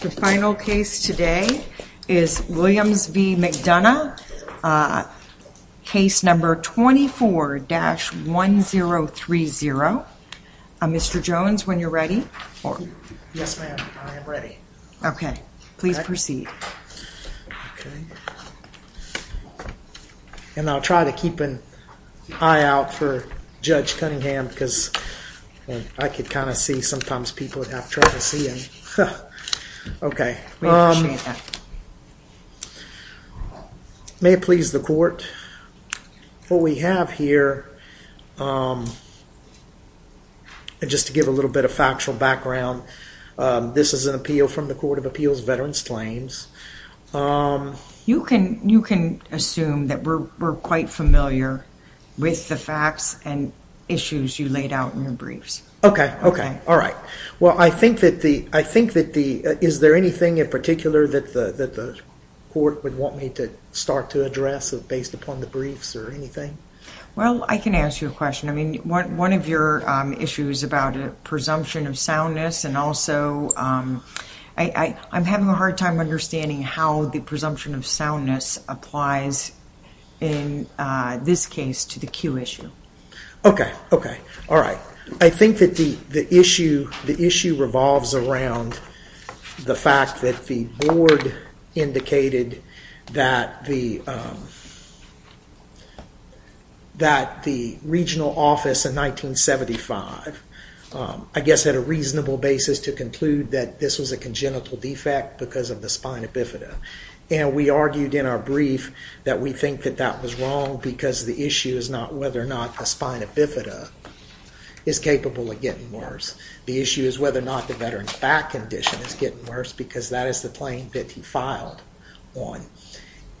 The final case today is Williams v. McDonough, case number 24-1030. Mr. Jones, when you're ready. Yes, ma'am, I am ready. Okay, please proceed. And I'll try to keep an eye out for Judge Cunningham because I could kind of see sometimes people would have trouble seeing. Okay, may it please the court, what we have here, just to give a little bit of factual background, this is an appeal from the Court of Appeals Veterans Claims. You can assume that we're quite familiar with the facts and issues you laid out in your briefs. Okay, okay, all right. Well, I think that the, is there anything in particular that the court would want me to start to address based upon the briefs or anything? Well, I can ask you a question. I mean, one of your issues about presumption of soundness and also, I'm having a hard time understanding how the presumption of soundness applies in this case to the cue issue. Okay, okay, all right. I think that the issue revolves around the fact that the board indicated that the regional office in 1975, I guess, had a reasonable basis to conclude that this was a congenital defect because of the spina bifida. And we argued in our brief that we think that that was wrong because the issue is not whether or not the spina bifida is capable of getting worse. The issue is whether or not the veteran's back condition is getting worse because that is the claim that he filed on.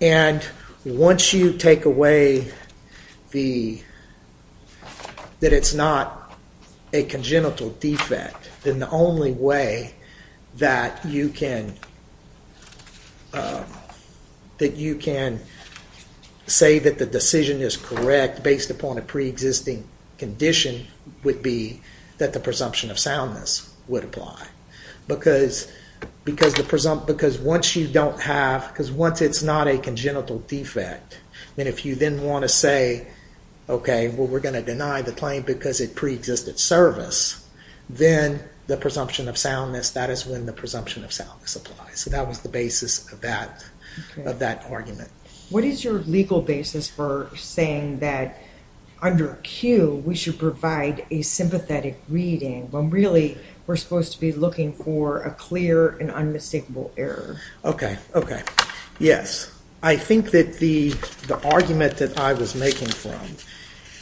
And once you take away the, that it's not a congenital defect, then the only way that you can say that the decision is correct based upon a pre-existing condition would be that the presumption of soundness would apply. Because once you don't have, because once it's not a congenital defect, and if you then want to say, okay, well, we're going to deny the claim because it pre-existed service, then the presumption of soundness, that is when the presumption of soundness applies. So that was the basis of that argument. What is your legal basis for saying that under Q, we should provide a sympathetic reading when really we're supposed to be looking for a clear and unmistakable error? Okay. Okay. Yes. I think that the argument that I was making from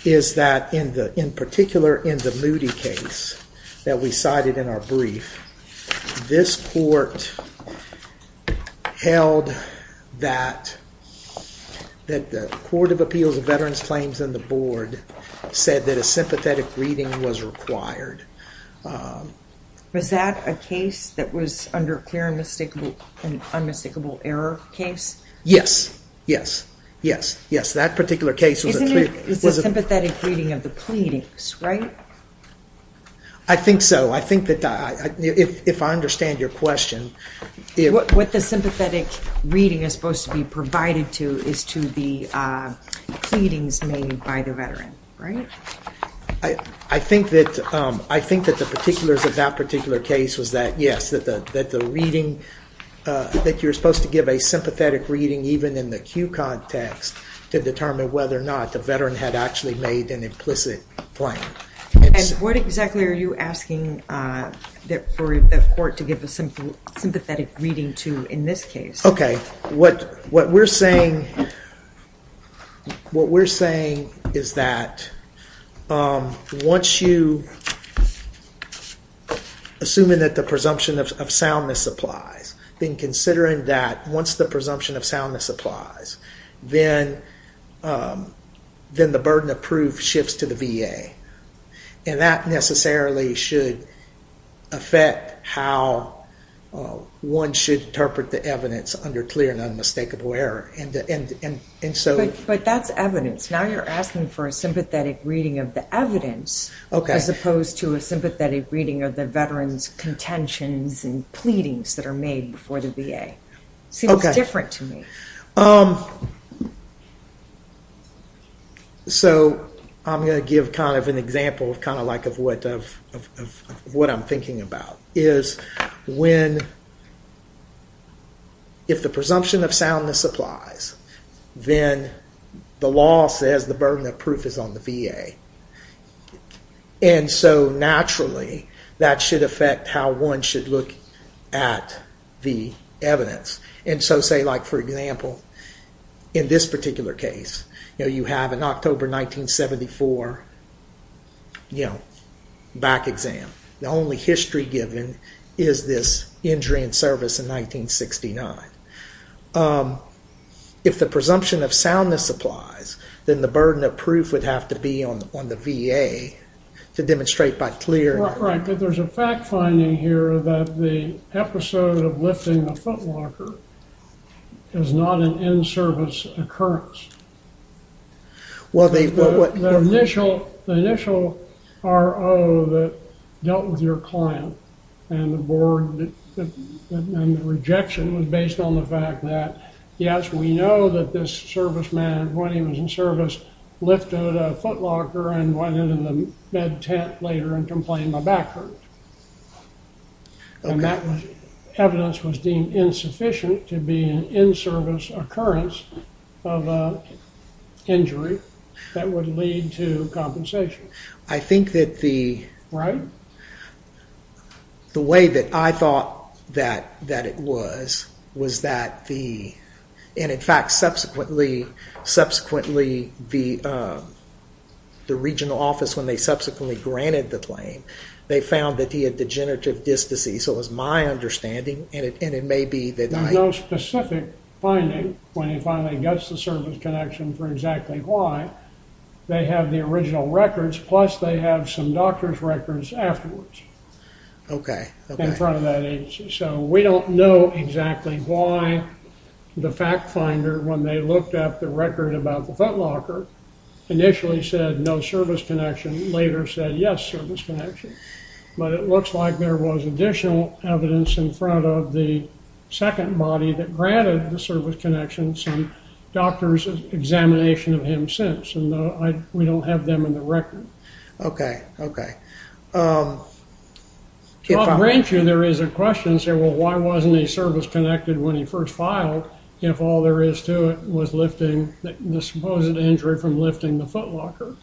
is that in particular in the Moody case that we cited in our brief, this court held that the Court of Appeals of Veterans Claims and the board said that a sympathetic reading was required. Was that a case that was under clear and unmistakable error case? Yes. Yes. Yes. Yes. That particular case was a sympathetic reading of the pleadings, right? I think so. I think that if I understand your question. What the sympathetic reading is supposed to be provided to is to the pleadings made by the veteran, right? I think that the particular case was that yes, that the reading, that you're supposed to give a sympathetic reading even in the Q context to determine whether or not the veteran had actually made an implicit claim. And what exactly are you asking for the court to give a sympathetic reading to in this case? Okay. What we're saying is that once you, assuming that the presumption of soundness applies, then considering that once the presumption of soundness applies, then the burden of proof shifts to the VA. And that necessarily should affect how one should interpret the evidence under clear and unmistakable error. But that's evidence. Now you're asking for a sympathetic reading of the evidence as opposed to a sympathetic reading of the veteran's contentions and pleadings that are made before the VA. Seems different to me. So I'm going to give kind of an example of kind of like of what I'm thinking about is when if the presumption of soundness applies, then the law says the burden of proof is on the VA. And so naturally, that should affect how one should look at the evidence. And so say like for example, in this particular case, you know, you have an October 1974, you know, back exam. The only history given is this injury in service in 1969. If the presumption of soundness applies, then the burden of proof would have to be on the VA to demonstrate by clear. Right, but there's a fact finding here that the episode of lifting a footlocker is not an in-service occurrence. Well, the initial RO that dealt with your client and the board and the rejection was based on the fact that yes, we know that this serviceman when he was in service lifted a footlocker and went into the bed tent later and complained my back hurt. And that evidence was deemed insufficient to be an in-service occurrence of an injury that would lead to compensation. I think that the way that I thought that it was, was that the, and in fact, subsequently the regional office when they subsequently granted the claim, they found that he had degenerative disc disease. So it was my understanding and it, and it may be that there's no specific finding when he finally gets the service connection for exactly why they have the original records. Plus they have some doctor's records afterwards. Okay. In front of that agency. So we don't know exactly why the fact finder, when they looked up the record about the footlocker initially said no service connection later said, yes, service connection, but it looks like there was additional evidence in front of the second body that granted the service connections and doctor's examination of him since, and we don't have them in the record. Okay. Okay. I'll grant you, there is a question and say, well, why wasn't he service connected when he first filed if all there is to it was lifting the supposed injury from lifting the footlocker?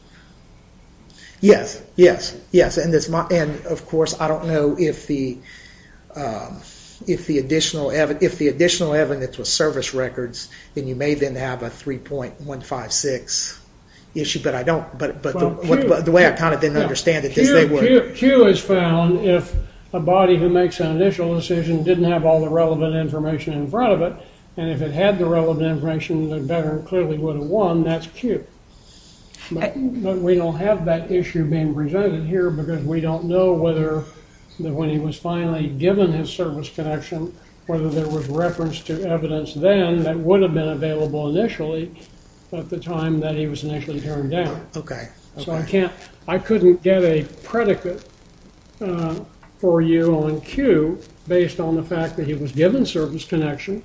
Yes. Yes. Yes. And this, and of course, I don't know if the, if the additional, if the additional evidence was service records, then you may then have a 3.156 issue, but I don't, but, but the way I kind of didn't understand it. Q is found if a body who makes an initial decision didn't have all the relevant information in front of it. And if it had the relevant information, the veteran clearly would have won. That's Q. But we don't have that issue being presented here because we don't know whether when he was finally given his service connection, whether there was reference to evidence then that would have been available initially at the time that he was initially turned down. Okay. So I can't, I can't give you a predicate for you on Q based on the fact that he was given service connection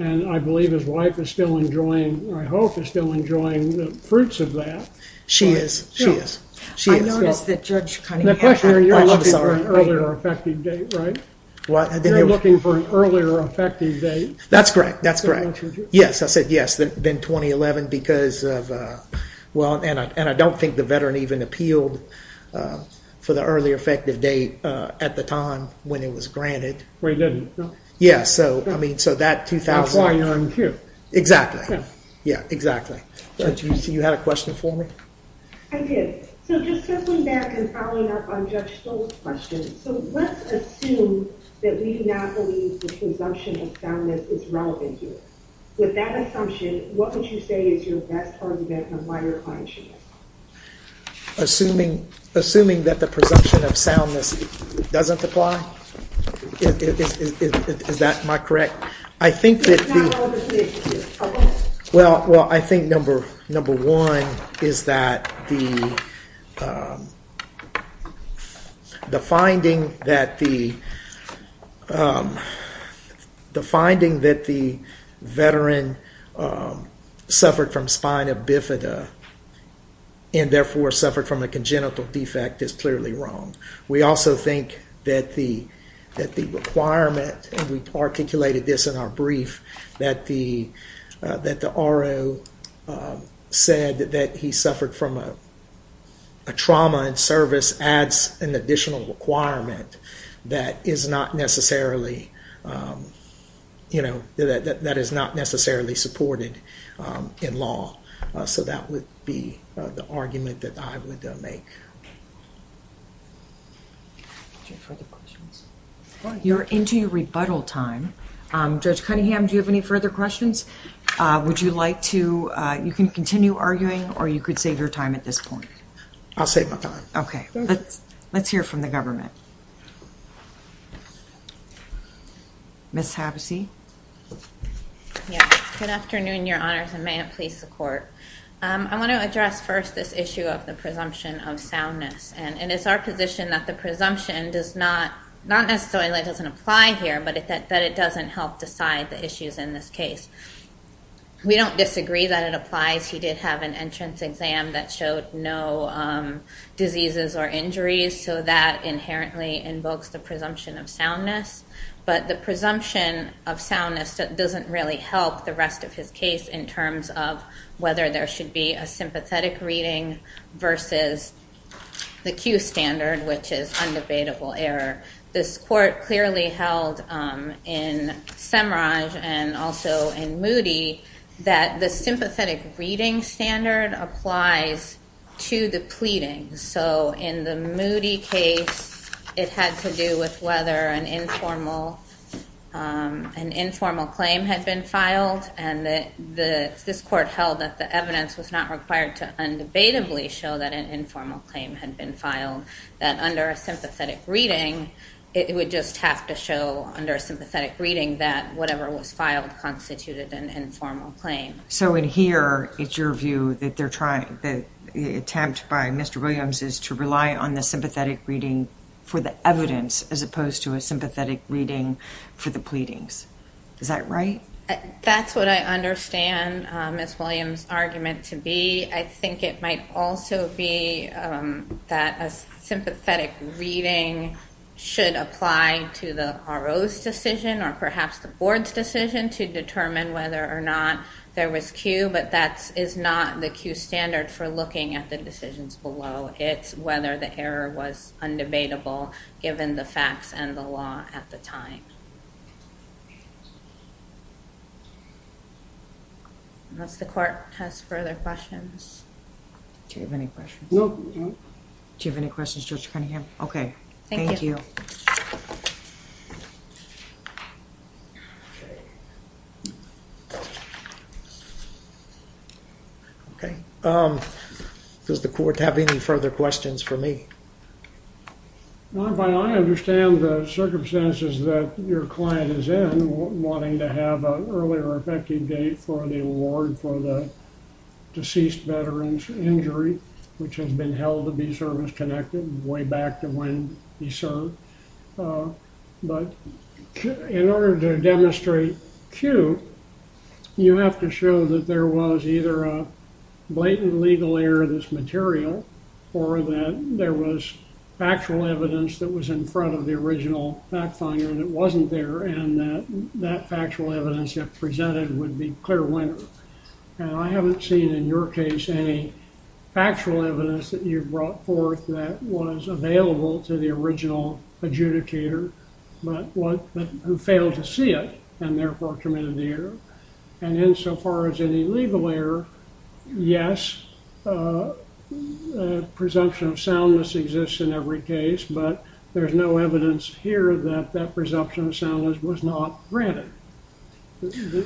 and I believe his wife is still enjoying, I hope is still enjoying the fruits of that. She is. She is. She is. I noticed that Judge Cunningham. The question, you're looking for an earlier effective date, right? What? You're looking for an earlier effective date. That's correct. That's correct. Yes. I said yes. Then 2011 because of, well, and I don't think the veteran even appealed for the earlier effective date at the time when it was granted. Well, he didn't. No. Yeah. So, I mean, so that 2000. That's why you're on Q. Exactly. Yeah, exactly. But you had a question for me? I did. So just circling back and following up on Judge Stoll's question. So let's assume that we do not believe the presumption of soundness is relevant here. With that assumption, what would you say is your best argument of why you're applying Q? Assuming, assuming that the presumption of soundness doesn't apply. Is that my correct? I think that. Well, I think number one is that the finding that the veteran suffered from spina bifida and therefore suffered from a congenital defect is clearly wrong. We also think that the requirement, and we articulated this in our brief, that the RO said that he suffered from a trauma in service adds an additional requirement that is not necessarily, you know, that is not necessarily supported in law. So that would be the argument that I would make. Do you have further questions? You're into your rebuttal time. Judge Cunningham, do you have any further questions? Would you like to, you can continue arguing or you could save your time at this point. I'll save my time. Okay. Let's hear from the government. Ms. Havasey. Good afternoon, Your Honors, and may it please the Court. I want to address first this issue of the presumption of soundness. And it's our position that the presumption does not, not necessarily doesn't apply here, but that it doesn't help decide the issues in this case. We don't disagree that it applies. He did have an entrance exam that showed no diseases or injuries, so that inherently invokes the presumption of soundness. But the presumption of soundness doesn't really help the rest of his case in terms of whether there should be a sympathetic reading versus the Q standard, which is undebatable error. This court clearly held in Semraj and also in Moody that the sympathetic reading standard applies to the pleading. So in the Moody case, it had to do with whether an informal, an informal claim had been filed and that the, this court held that the evidence was not required to undebatably show that an informal claim had been filed, that under a sympathetic reading, it would just have to show under a sympathetic reading that whatever was filed constituted an informal claim. So in here, it's your view that they're trying, the attempt by Mr. Williams is to rely on the sympathetic reading for the evidence as opposed to a sympathetic reading for the pleadings. Is that right? That's what I understand Ms. Williams' argument to be. I think it might also be that a sympathetic reading should apply to the RO's decision or perhaps the board's decision to determine whether or not there was Q, but that is not the Q standard for looking at the decisions below. It's whether the error was undebatable given the facts and the law at the time. Unless the court has further questions. Do you have any questions? No. Do you have any questions Judge Cunningham? Okay. Thank you. Okay. Does the court have any further questions for me? I understand the circumstances that your client is in, wanting to have an early or effective date for the award for the deceased veteran's injury, which has been held to be service-connected way back to when he served. But in order to demonstrate Q, you have to show that there was either a blatant legal error in this material or that there was factual evidence that was in front of the original fact finder that wasn't there and that that factual evidence you have presented would be clear winner. And I haven't seen in your case any factual evidence that you've brought forth that was available to the original adjudicator, but who failed to see it and therefore committed the error. And insofar as any legal error, yes, presumption of soundness exists in every case, but there's no evidence here that that presumption of soundness was not granted.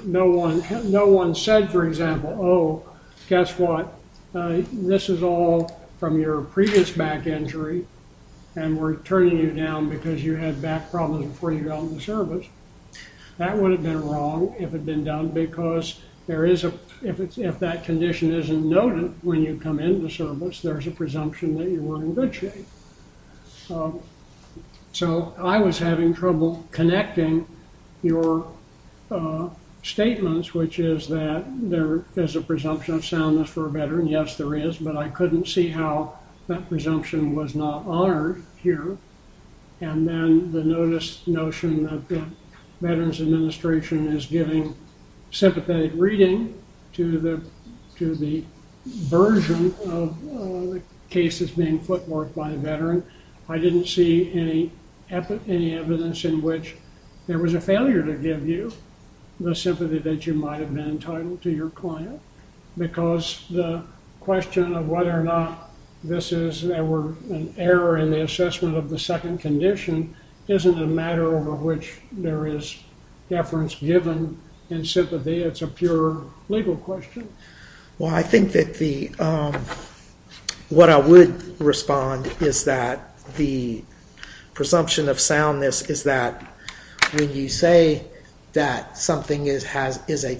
No one said, for example, oh, guess what, this is all from your previous back injury and we're turning you down because you had back problems before you got into service. That would have been wrong if it'd been done because there is a, if that condition isn't noted when you come into service, there's a presumption that you were in good shape. So I was having trouble connecting your statements, which is that there is a presumption of soundness for a veteran. Yes, there is, but I couldn't see how that presumption was not honored here. And then the notice notion that the Veterans Administration is giving sympathetic reading to the version of the cases being footworked by a veteran. I didn't see any evidence in which there was a failure to give you the sympathy that you had been entitled to your client, because the question of whether or not this is an error in the assessment of the second condition isn't a matter over which there is deference given in sympathy. It's a pure legal question. Well, I think that the, what I would respond is that the presumption of soundness is that when you say that something has a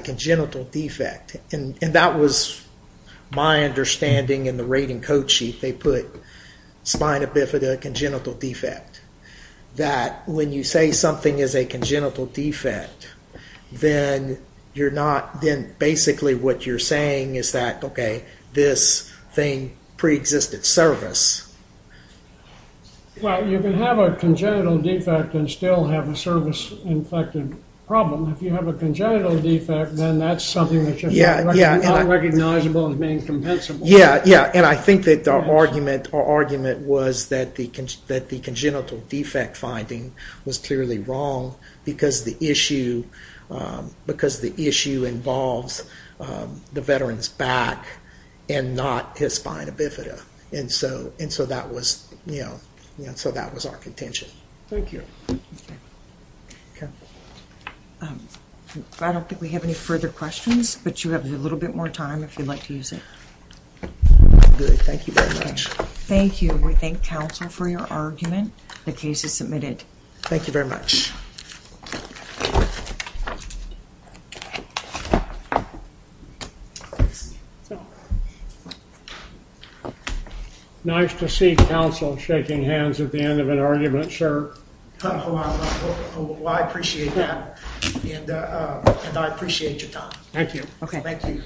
congenital defect, and that was my understanding in the rating code sheet, they put spina bifida congenital defect, that when you say something is a congenital defect, then you're not, then basically what you're saying is that, okay, this thing has a preexisted service. Well, you can have a congenital defect and still have a service-infected problem. If you have a congenital defect, then that's something that's just unrecognizable and incompensable. Yeah, yeah, and I think that the argument was that the congenital defect finding was clearly wrong, because the issue, because the issue involves the veteran's back and not his spina bifida, and so that was, you know, so that was our contention. Thank you. I don't think we have any further questions, but you have a little bit more time if you'd like to use it. Good, thank you very much. Thank you. We thank counsel for your argument. The case is closed. Nice to see counsel shaking hands at the end of an argument, sir. Well, I appreciate that, and I appreciate your time. Thank you. Thank you.